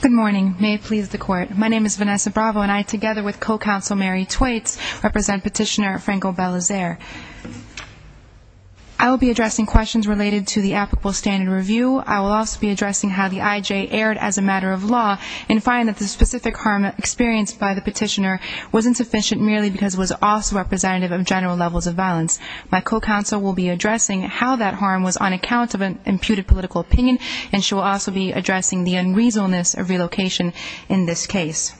Good morning. May it please the Court. My name is Vanessa Bravo and I, together with Petitioner Franco Belizaire. I will be addressing questions related to the applicable standard review. I will also be addressing how the IJ erred as a matter of law and find that the specific harm experienced by the petitioner was insufficient merely because it was also representative of general levels of violence. My co-counsel will be addressing how that harm was on account of an imputed political opinion and she will also be addressing the unreasonableness of relocation in this case.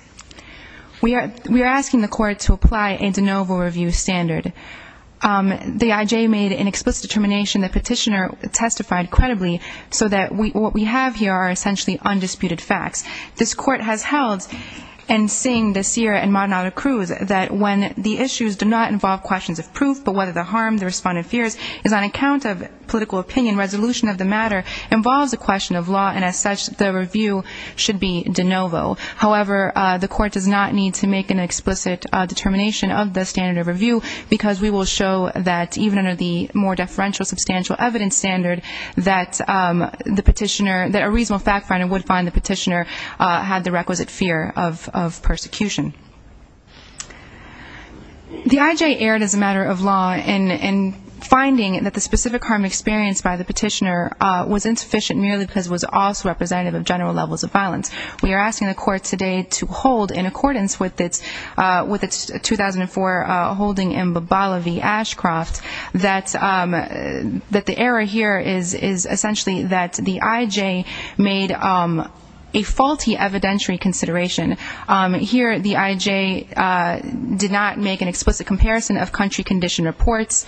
We are asking the Court to apply a de novo review standard. The IJ made an explicit determination that Petitioner testified credibly so that what we have here are essentially undisputed facts. This Court has held and seen this year in Madonado Cruz that when the issues do not involve questions of proof but whether the harm the respondent fears is on account of political opinion, resolution of the matter involves a question of law and as such the review should be de novo. However, the Court does not need to make an explicit determination of the standard of review because we will show that even under the more deferential substantial evidence standard that the petitioner, that a reasonable fact finder would find the petitioner had the requisite fear of persecution. The IJ erred as a matter of law in finding that the specific harm experienced by the petitioner was insufficient merely because it was also representative of general levels of violence. We are asking the Court today to hold in accordance with its 2004 holding in Bobola v. Ashcroft that the error here is essentially that the IJ made a faulty evidentiary consideration. Here the IJ did not make an explicit comparison of country condition reports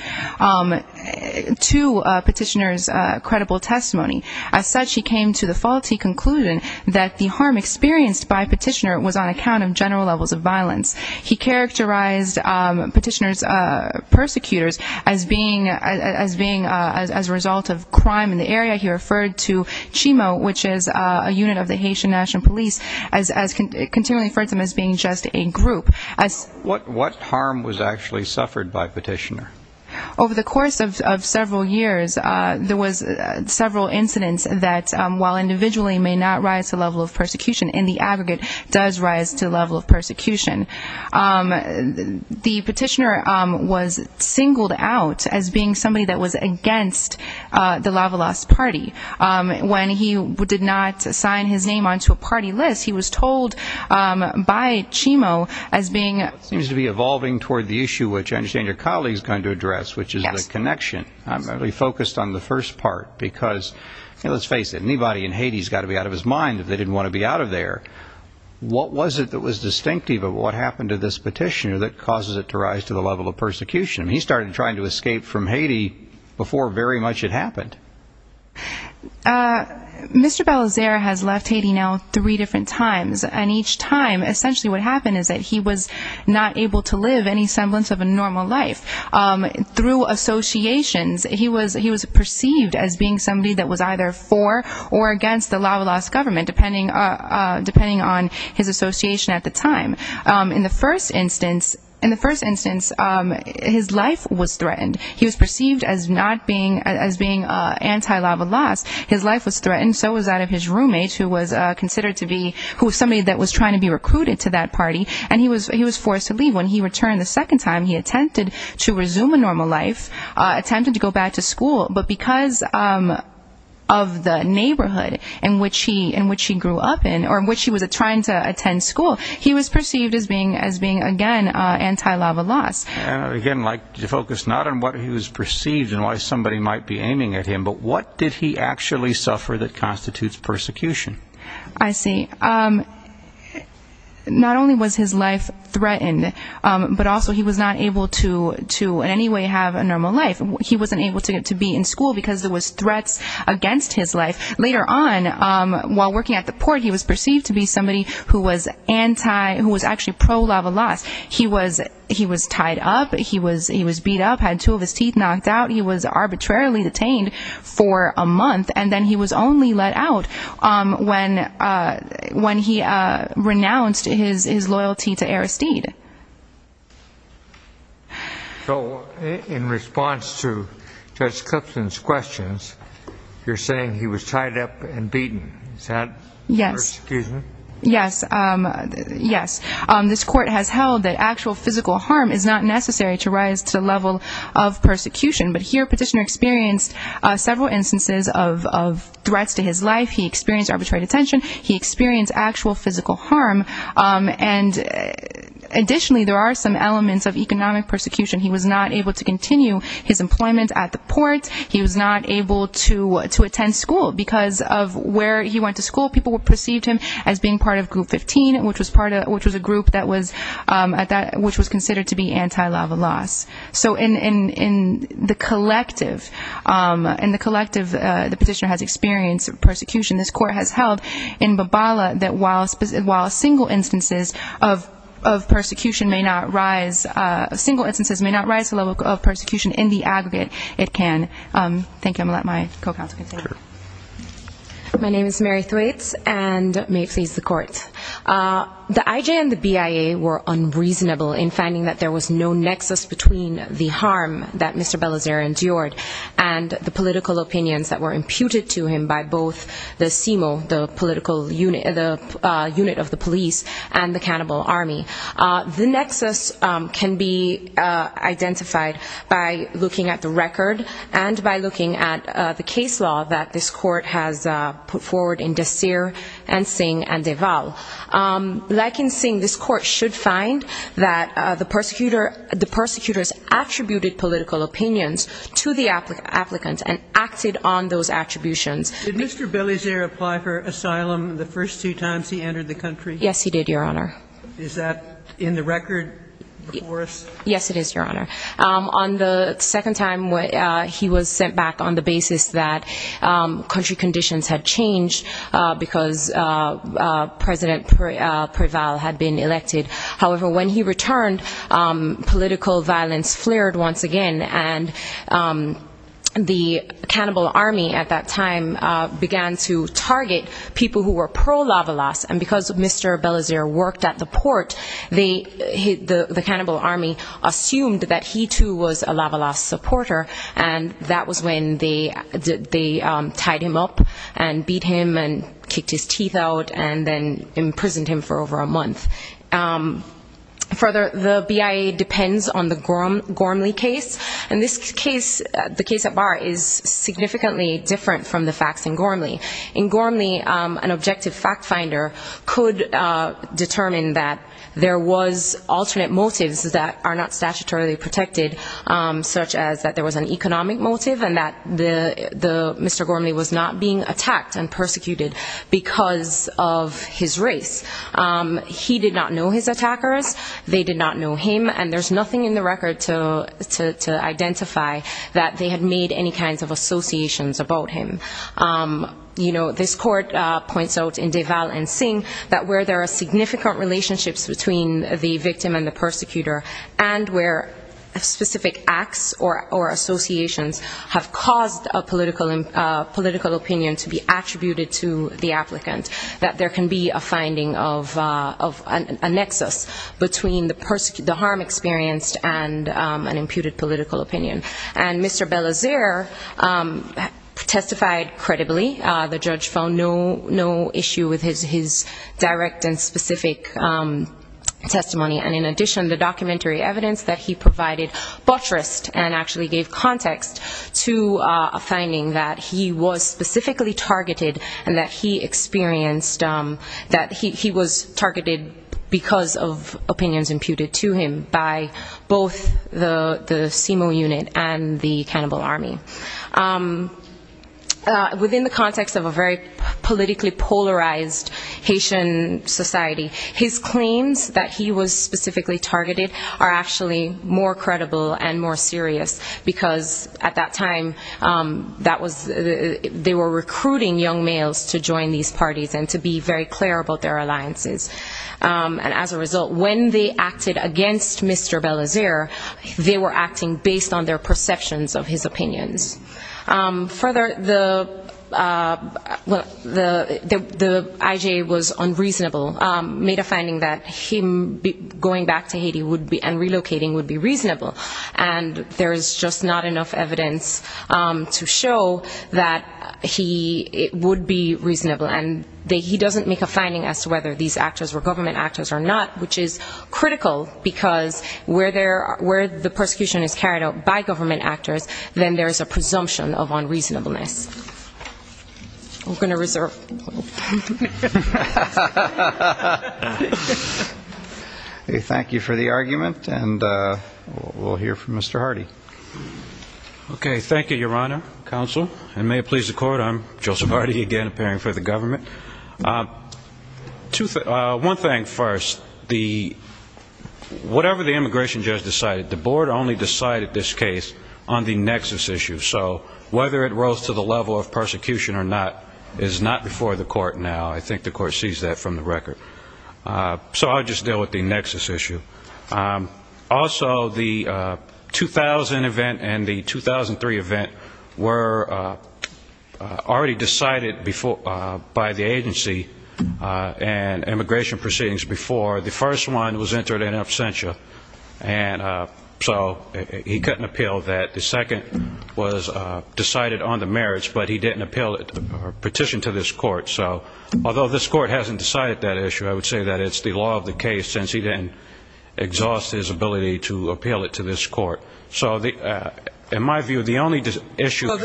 to petitioner's credible testimony. As such he came to the faulty conclusion that the harm experienced by petitioner was on account of general levels of violence. He characterized petitioner's persecutors as being as a result of crime in the area. He referred to Chimo which is a unit of the Haitian National Police as continually referred to them as being just a group. What harm was actually suffered by petitioner? Over the course of several years there was several incidents that while individually may not rise to level of persecution in the aggregate does rise to level of persecution. The petitioner was singled out as being somebody that was against the Lavalos party. When he did not sign his name onto a party list he was told by Chimo as being. Seems to be evolving toward the issue which I understand your colleague is going to address which is the connection. I'm going to be focused on the first part because let's face it anybody in Haiti has got to be out of his mind if they didn't want to be out of there. What was it that was distinctive of what happened to this petitioner that causes it to rise to the level of persecution? He started trying to escape from Haiti before very much had happened. Mr. Balazer has left Haiti now three different times and each time essentially what happened is that he was not able to live any semblance of a normal life. Through associations he was perceived as being somebody that was either for or against the Lavalos government depending on his association at the time. In the first instance his life was threatened. He was perceived as not being as being anti-Lavalos. His life was threatened so was that of his roommate who was considered to be who was somebody that was trying to be recruited to that party and he was he was forced to leave. When he returned the second time he attempted to resume a normal life. Attempted to go back to school but because of the neighborhood in which he in which he grew up in or in which he was trying to attend school he was perceived as being as being again anti-Lavalos. Again like to focus not on what he was perceived and why somebody might be aiming at him but what did he actually suffer that constitutes persecution? I see. Not only was his life threatened but also he was not able to to in any way have a normal life. He wasn't able to be in school because there was threats against his life. Later on while working at the port he was perceived to be somebody who was actually pro-Lavalos. He was tied up. He was beat up. Had two of his teeth knocked out. He was arbitrarily detained for a month and then he was only let out when he renounced his loyalty to Aristide. So in response to Judge Cupson's questions you're saying he was tied up and beaten. Is that persecution? Yes. This court has held that actual physical harm is not necessary to rise to the level of persecution but here Petitioner experienced several instances of threats to his life. He experienced arbitrary detention. He experienced actual physical harm and additionally there are some elements of economic persecution. He was not able to continue his employment at the port. He was not able to attend school because of where he went to school people perceived him as being part of group 15 which was a group that was considered to be anti-Lavalos. So in the collective the Petitioner has experienced persecution. This court has held in Babala that while single instances of persecution may not rise to the level of persecution in the aggregate it can. Thank you I'm going to let my co-counselor continue. My name is Mary Thwaites and may it please the court. The IJ and the BIA were unreasonable in finding that there was no nexus between the harm that Mr. Bellazer endured and the political opinions that were imputed to him by both the CIMO, the political unit of the police and the cannibal army. The nexus can be identified by looking at the record and by looking at the case law that this court has put forward in Desir and Singh and Deval. Like in Singh this court should find that the persecutors attributed political opinions to the applicants and acted on those attributions. Did Mr. Bellazer apply for asylum the first two times he entered the country? Yes he did your honor. Is that in the record before us? Yes it is your honor. On the second time he was sent back on the basis that country conditions had changed because President Preval had been elected. However when he returned political violence flared once again and the cannibal army at that time began to target people who were pro-Lavalas and because Mr. Bellazer worked at the port the cannibal army assumed that he too was a Lavalas supporter and that was when they tied him up and beat him and kicked his teeth out and then imprisoned him for over a month. Further the BIA depends on the Gormley case and this case, the case at bar is significantly different from the facts in Gormley. In Gormley an objective fact finder could determine that there was alternate motives that are not statutorily protected such as that there was an economic motive and that Mr. Gormley was not being attacked and persecuted because of his race. He did not know his attackers, they did not know him and there's nothing in the record to identify that they had made any kind of associations about him. You know this court points out in Deval and Singh that where there are significant relationships between the victim and the persecutor and where specific acts or associations have caused a political opinion to be attributed to the applicant that there can be a finding of a nexus between the harm experienced and Mr. Belazer testified credibly. The judge found no issue with his direct and specific testimony and in addition the documentary evidence that he provided buttressed and actually gave context to a finding that he was specifically targeted and that he experienced that he was targeted because of opinions imputed to him by both the CIMO unit and the cannibal army. Within the context of a very politically polarized Haitian society his claims that he was specifically targeted are actually more credible and more serious because at that time they were recruiting young males to join these parties and to be very clear about their alliances and as a result when they acted against Mr. Belazer they were acting based on their perceptions of his opinions. Further the IJA was unreasonable, made a finding that him going back to Haiti would be and relocating would be reasonable and there's just not enough evidence to show that he would be reasonable and he doesn't make a finding as to whether these actors were government actors or not which is critical because where the persecution is carried out by government actors then there's a presumption of unreasonableness. I'm going to reserve. Thank you for the argument and we'll hear from Mr. Hardy. Okay thank you your honor, counsel and may it please the court I'm Joseph Hardy again appearing for the government. One thing first, whatever the immigration judge decided the board only decided this case on the nexus issue so whether it rose to the level of persecution or not is not before the court now. I think the court sees that from the record. So I'll just deal with the fact that the two issues were already decided by the agency and immigration proceedings before the first one was entered in absentia and so he couldn't appeal that. The second was decided on the merits but he didn't appeal it or petition to this court so although this court hasn't decided that issue I would say that it's the law of the case since he didn't exhaust his ability to appeal it to this court. So in my view the only issue Well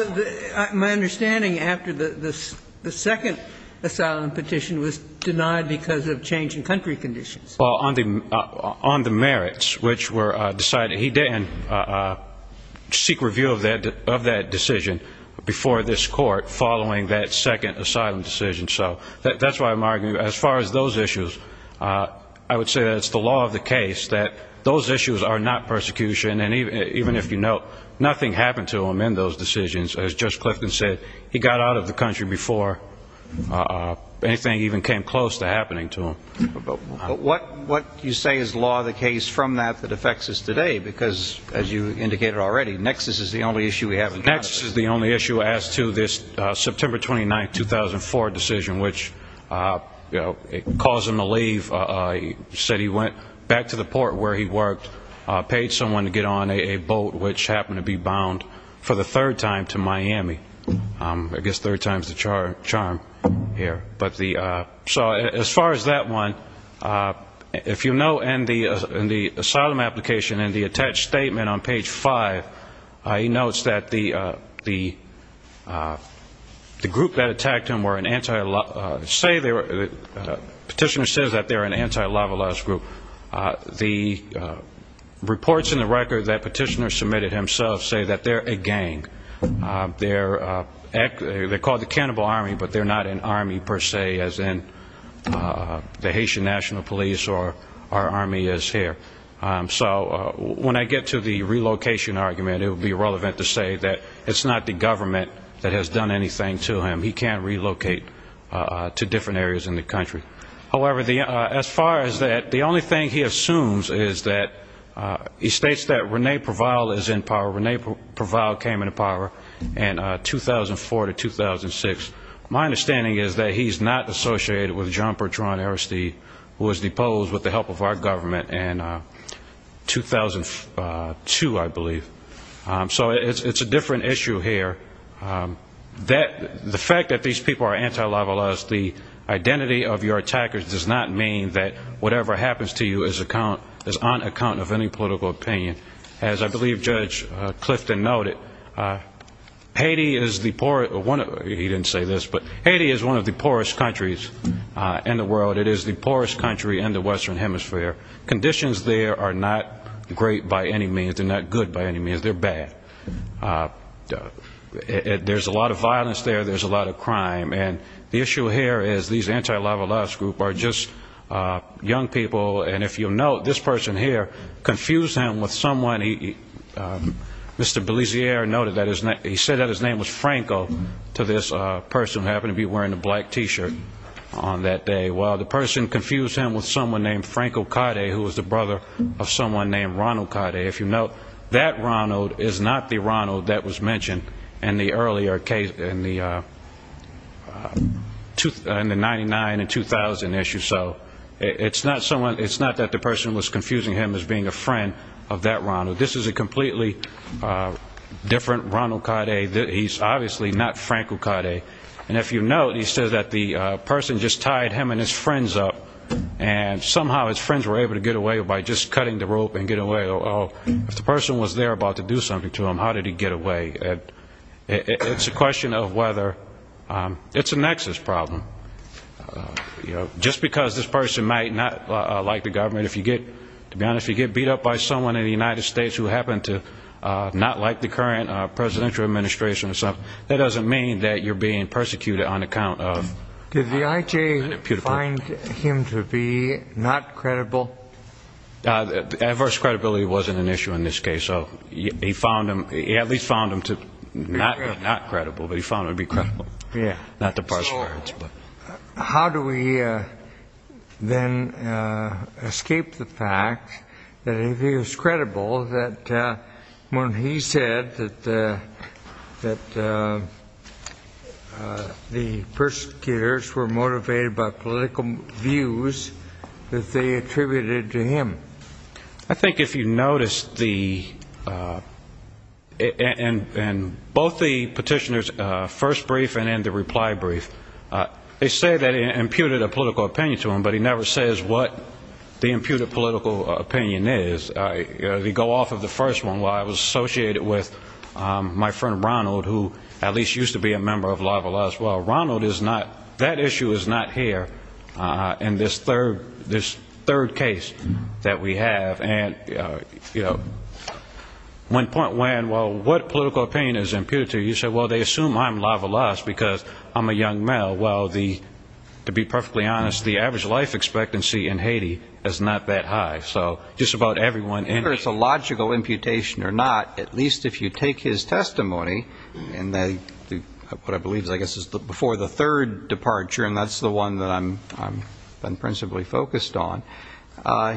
my understanding after the second asylum petition was denied because of change in country conditions Well on the merits which were decided he didn't seek review of that decision before this court following that second asylum decision so that's why I'm arguing as far as those issues I would say that it's the law of the case that those issues are not persecution and even if you note nothing happened to him in those decisions as Judge Clifton said he got out of the country before anything even came close to happening to him. What you say is law of the case from that that affects us today because as you indicated already nexus is the only issue we have Nexus is the only issue as to this September 29, 2004 decision which caused him to leave said he went back to the port where he worked paid someone to get on a boat which happened to be bound for the third time to Miami. I guess third time's the charm here. So as far as that one if you note in the asylum application in the attached statement on page 5 he notes that the group that attacked him were an anti say they were petitioner says that they were an anti-Lavalas group. The reports in the record that petitioner submitted himself say that they're a gang. They're called the cannibal army but they're not an army per say as in the Haitian National Police or our army is here. So when I get to the relocation argument it would be relevant to say that it's not the government that has done anything to him. He can't relocate to different areas in the country. However, as far as that the only thing he assumes is that he states that Rene Provile is in power. Rene Provile came into power in 2004 to 2006. My understanding is that he's not associated with John Pertron Aristide who was deposed with the help of our government in 2002 I believe. So it's a different issue here. The fact that these people are anti-Lavalas the identity of your attackers does not mean that whatever happens to you is on account of any political opinion. As I believe Judge Clifton noted, Haiti is one of the poorest countries in the world. It is the poorest country in the western hemisphere. Conditions there are not great by any means. They're not good by any means. They're bad. There's a lot of violence there. There's a lot of crime. And the issue here is these anti-Lavalas groups are just young people and if you'll note, this person here confused him with someone he, Mr. Belisier noted that his name, he said that his name was Franco to this person who happened to be wearing a black T-shirt on that day. Well, the person confused him with someone named Franco Cade who was the brother of someone named Ronald Cade. If you'll note, that Ronald is not the Ronald that was mentioned in the earlier case, in the 99 and 2000 issue. So it's not that the person was confusing him as being a friend of that Ronald. This is a completely different Ronald Cade. He's obviously not Franco Cade. And if you'll note, he says that the person just tied him and his friends up and somehow his friends were able to get away by just cutting the rope and get away. If the person was there about to do something to him, how did he get away? It's a question of whether, it's a nexus problem. Just because this person might not like the government, if you get, to be honest, if you get beat up by someone in the United States who happened to not like the current presidential administration or you're being persecuted on account of... Did the IJ find him to be not credible? Adverse credibility wasn't an issue in this case. So he found him, he at least found him to be not credible, but he found him to be credible. Yeah. Not to persecute. So how do we then escape the fact that if he was credible, that when he said that, that, that, that, that the persecutors were motivated by political views that they attributed to him? I think if you notice the, in both the petitioner's first brief and in the reply brief, they say that it imputed a political opinion to him, but he never says what the imputed political opinion is. They go off of the first one, while it was associated with my friend Ronald, who at least used to be a member of La Valasse. Well, Ronald is not, that issue is not here in this third, this third case that we have. And, you know, when point when, well, what political opinion is imputed to you? You say, well, they assume I'm La Valasse because I'm a young male. Well, the, to be perfectly honest, the average life expectancy in Haiti is not that high. So just about everyone... Whether it's a logical imputation or not, at least if you take his testimony, and they, what I believe is, I guess, is before the third departure, and that's the one that I'm principally focused on,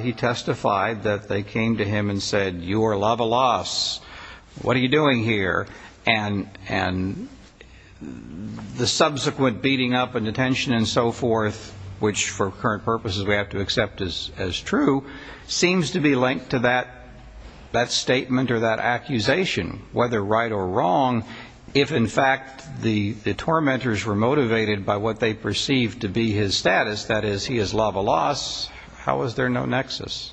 he testified that they came to him and said, you are La Valasse. What are you doing here? And, and the subsequent beating up and detention and so forth, which for current purposes we have to accept as, as true, seems to be linked to that, that statement or that accusation, whether right or wrong, if in fact the, the tormentors were motivated by what they perceived to be his status, that is, he is La Valasse, how is there no nexus?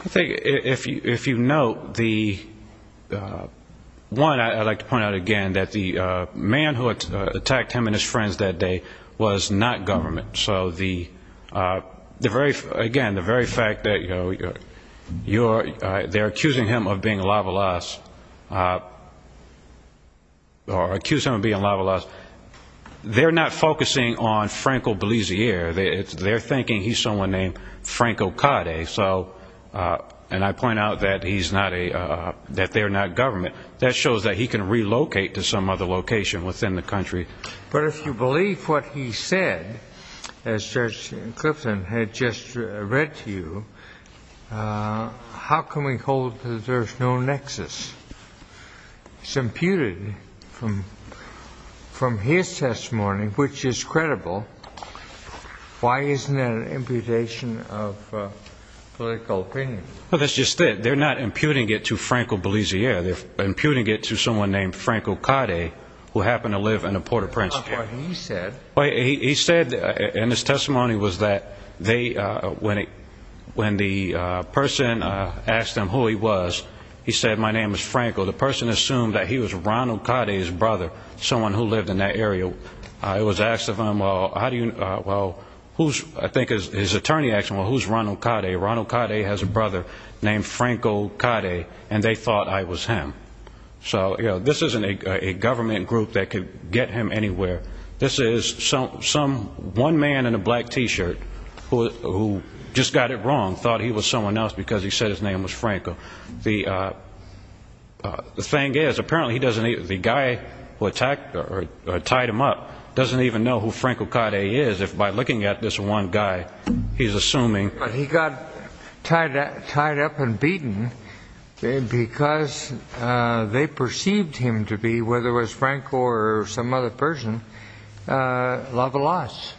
I think if you, if you note the, one, I'd like to point out again that the man who attacked him and his friends that day was not government. So the, the very, again, the very fact that, you are, they're accusing him of being La Valasse, or accuse him of being La Valasse, they're not focusing on Franco Belisier. They're thinking he's someone named Franco Cade. So, and I point out that he's not a, that they're not government. That shows that he can relocate But if you believe what he said, as Judge Clifton had just read to you, how can we hold that there's no nexus? It's imputed from, from his testimony, which is credible. Why isn't that an imputation of political opinion? Well, that's just it. They're not imputing it to Franco Belisier. They're imputing it to someone named Franco Cade, who happened to live in the Port-au-Prince area. What part did he say? He said, in his testimony, was that they, when, when the person asked him who he was, he said, my name is Franco. The person assumed that he was Ronald Cade's brother, someone who lived in that area. It was asked of him, well, how do you, well, who's, I think his attorney asked him, well, who's Ronald Cade? Ronald Cade has a brother named Franco Cade, and they thought I was him. So, you know, this isn't a government group that could get him anywhere. This is some, one man in a black t-shirt who just got it wrong, thought he was someone else because he said his name was Franco. The thing is, apparently he doesn't, the guy who attacked, or tied him up, doesn't even know who Franco Cade is, if by looking at this one guy, he's assuming... Because they perceived him to be, whether it was Franco or some other person, a lavalasse.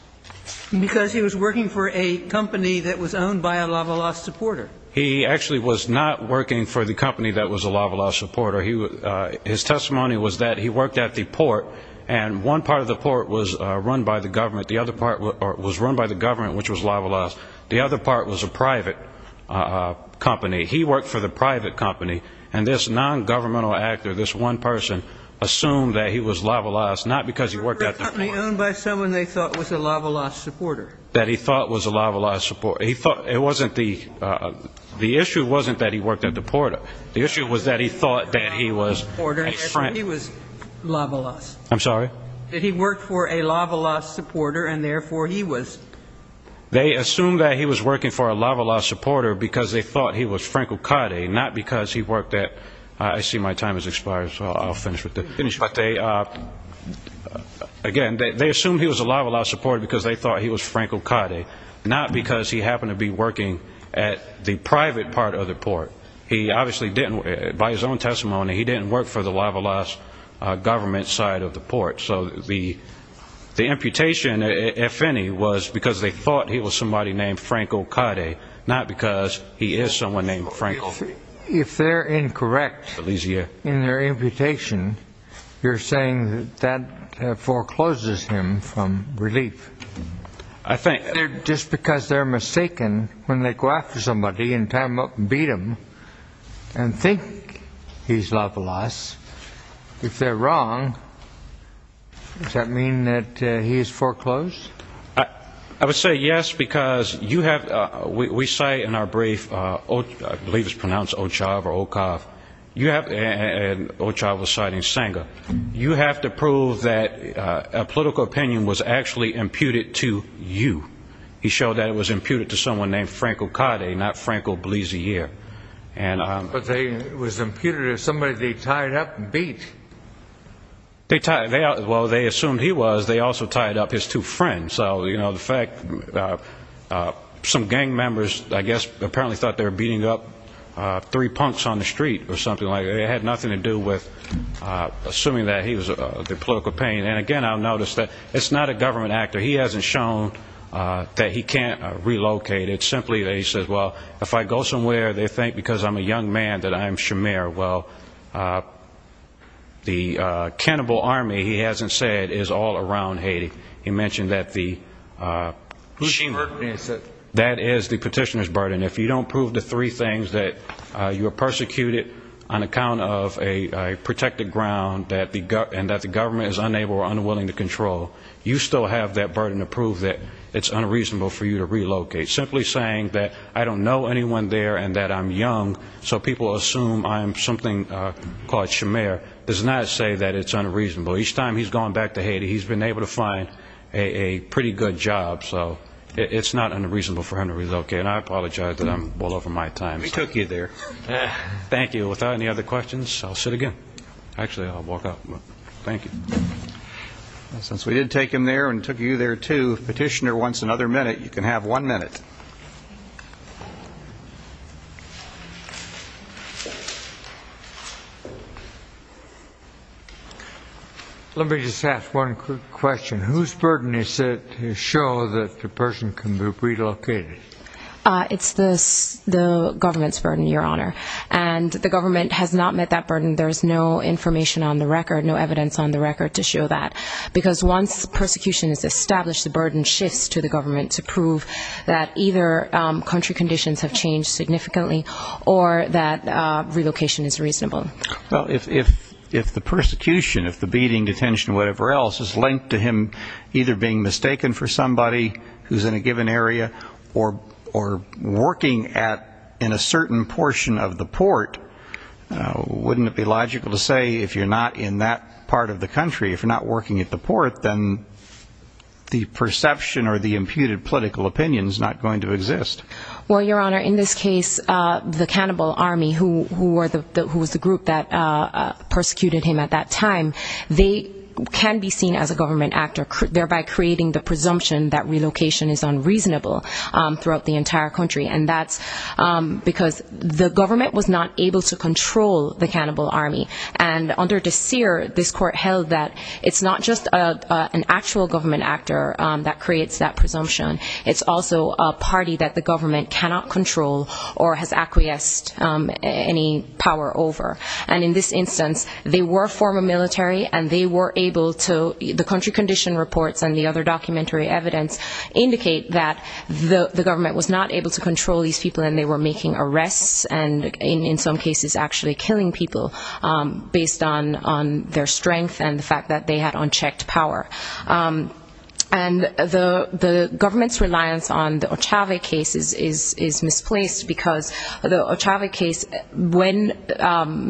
Because he was working for a company that was owned by a lavalasse supporter. He actually was not working for the company that was a lavalasse supporter. He, his testimony was that he worked at the port, and one part of the port was run by the government. The other part was run by the government, which was lavalasse. The other part was a private company. He worked for the private company, and this non-governmental actor, this one person, assumed that he was lavalasse, not because he worked at the port. For a company owned by someone they thought was a lavalasse supporter. That he thought was a lavalasse supporter. He thought, it wasn't the, the issue wasn't that he worked at the port. The issue was that he thought that he was a friend. He was lavalasse. I'm sorry? That he worked for a lavalasse supporter, and therefore he was... They assumed that he was working for a lavalasse supporter because they thought he was Franco Cade, not because he worked at, I see my time has expired, so I'll finish with this, but they, again, they assumed he was a lavalasse supporter because they thought he was Franco Cade, not because he happened to be working at the private part of the port. He obviously didn't, by his own testimony, he didn't work for the lavalasse government side of the port, so the, the imputation, if any, was because they thought he was somebody named Franco Cade, not because he is someone named Franco. If they're incorrect in their imputation, you're saying that forecloses him from relief? I think... Just because they're mistaken, when they go after somebody and beat them, and think he's wrong, does that mean that he is foreclosed? I would say yes, because you have, we cite in our brief, I believe it's pronounced Ochav or Okav, you have, and Ochav was citing Sanger, you have to prove that a political opinion was actually imputed to you. He showed that it was imputed to someone named Franco Cade, not Franco Blasier. But they, it was imputed to somebody they tied up and beat. They tied, well, they assumed he was, they also tied up his two friends, so, you know, the fact, some gang members, I guess, apparently thought they were beating up three punks on the street, or something like that, it had nothing to do with, assuming that he was the political pain. And again, I've noticed that it's not a government actor, he hasn't shown that he can't relocate, it's simply that he says, well, if I go somewhere, they think because I'm a young man that I'm Shamir, well, the cannibal army, he hasn't said, is all around Haiti. He mentioned that the, that is the petitioner's burden. If you don't prove the three things, that you were persecuted on account of a protected ground, and that the government is unable or unwilling to control, you still have that burden to prove that it's unreasonable for you to relocate. Simply saying that I don't know anyone there, and that I'm young, so people assume I'm something called Shamir, does not say that it's unreasonable. Each time he's gone back to Haiti, he's been able to find a pretty good job, so it's not unreasonable for him to relocate, and I apologize that I'm well over my time. We took you there. Thank you. Without any other questions, I'll sit again. Actually, I'll walk up, but thank you. Since we did take him there, and took you there, too, if the petitioner wants another one minute. Let me just ask one quick question. Whose burden is it to show that the person can be relocated? It's the government's burden, Your Honor, and the government has not met that burden. There is no information on the record, no evidence on the record to show that, because once persecution is established, the burden shifts to the government to prove that either country conditions have changed significantly, or that relocation is reasonable. Well, if the persecution, if the beating, detention, whatever else, is linked to him either being mistaken for somebody who's in a given area, or working in a certain portion of the port, wouldn't it be logical to say, if you're not in that part of the country, if you're not working at the port, then the perception or the imputed political opinion is not going to exist. Well, Your Honor, in this case, the cannibal army, who was the group that persecuted him at that time, they can be seen as a government actor, thereby creating the presumption that relocation is unreasonable throughout the entire country. And that's because the government was not able to control the cannibal army. And under De Seer, this court held that it's not just an actual government actor that creates that presumption, it's also a party that the government cannot control, or has acquiesced any power over. And in this instance, they were former military, and they were able to, the country condition reports and the other documentary evidence indicate that the government was not able to control these people, and they were making arrests, and in some cases, actually killing people based on their strength and the fact that they had unchecked power. And the government's reliance on the Ochave case is misplaced because the Ochave case, when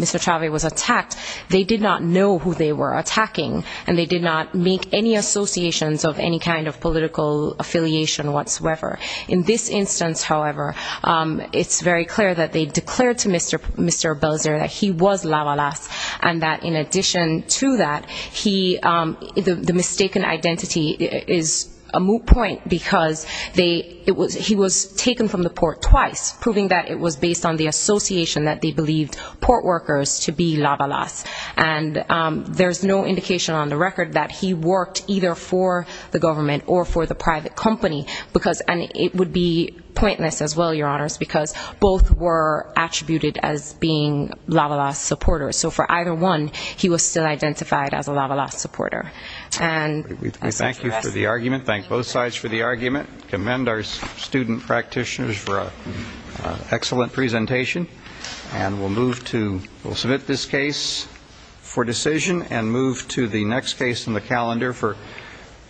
Mr. Ochave was attacked, they did not know who they were attacking, and they did not make any associations of any kind of political affiliation whatsoever. In this instance, however, it's very clear that they declared to Mr. Belzer that he was La Valasse, and that in addition to that, he, the mistaken identity is a moot point because he was taken from the port twice, proving that it was based on the association that they believed port workers to be La Valasse. And there's no indication on the record that he worked either for the government or for the private company, because, and it would be pointless as well, Your Honors, because both were attributed as being La Valasse supporters. So for either one, he was still identified as a La Valasse supporter. And we thank you for the argument, thank both sides for the argument, commend our student practitioners for an excellent presentation, and we'll move to, we'll submit this case for decision and move to the next case in the calendar for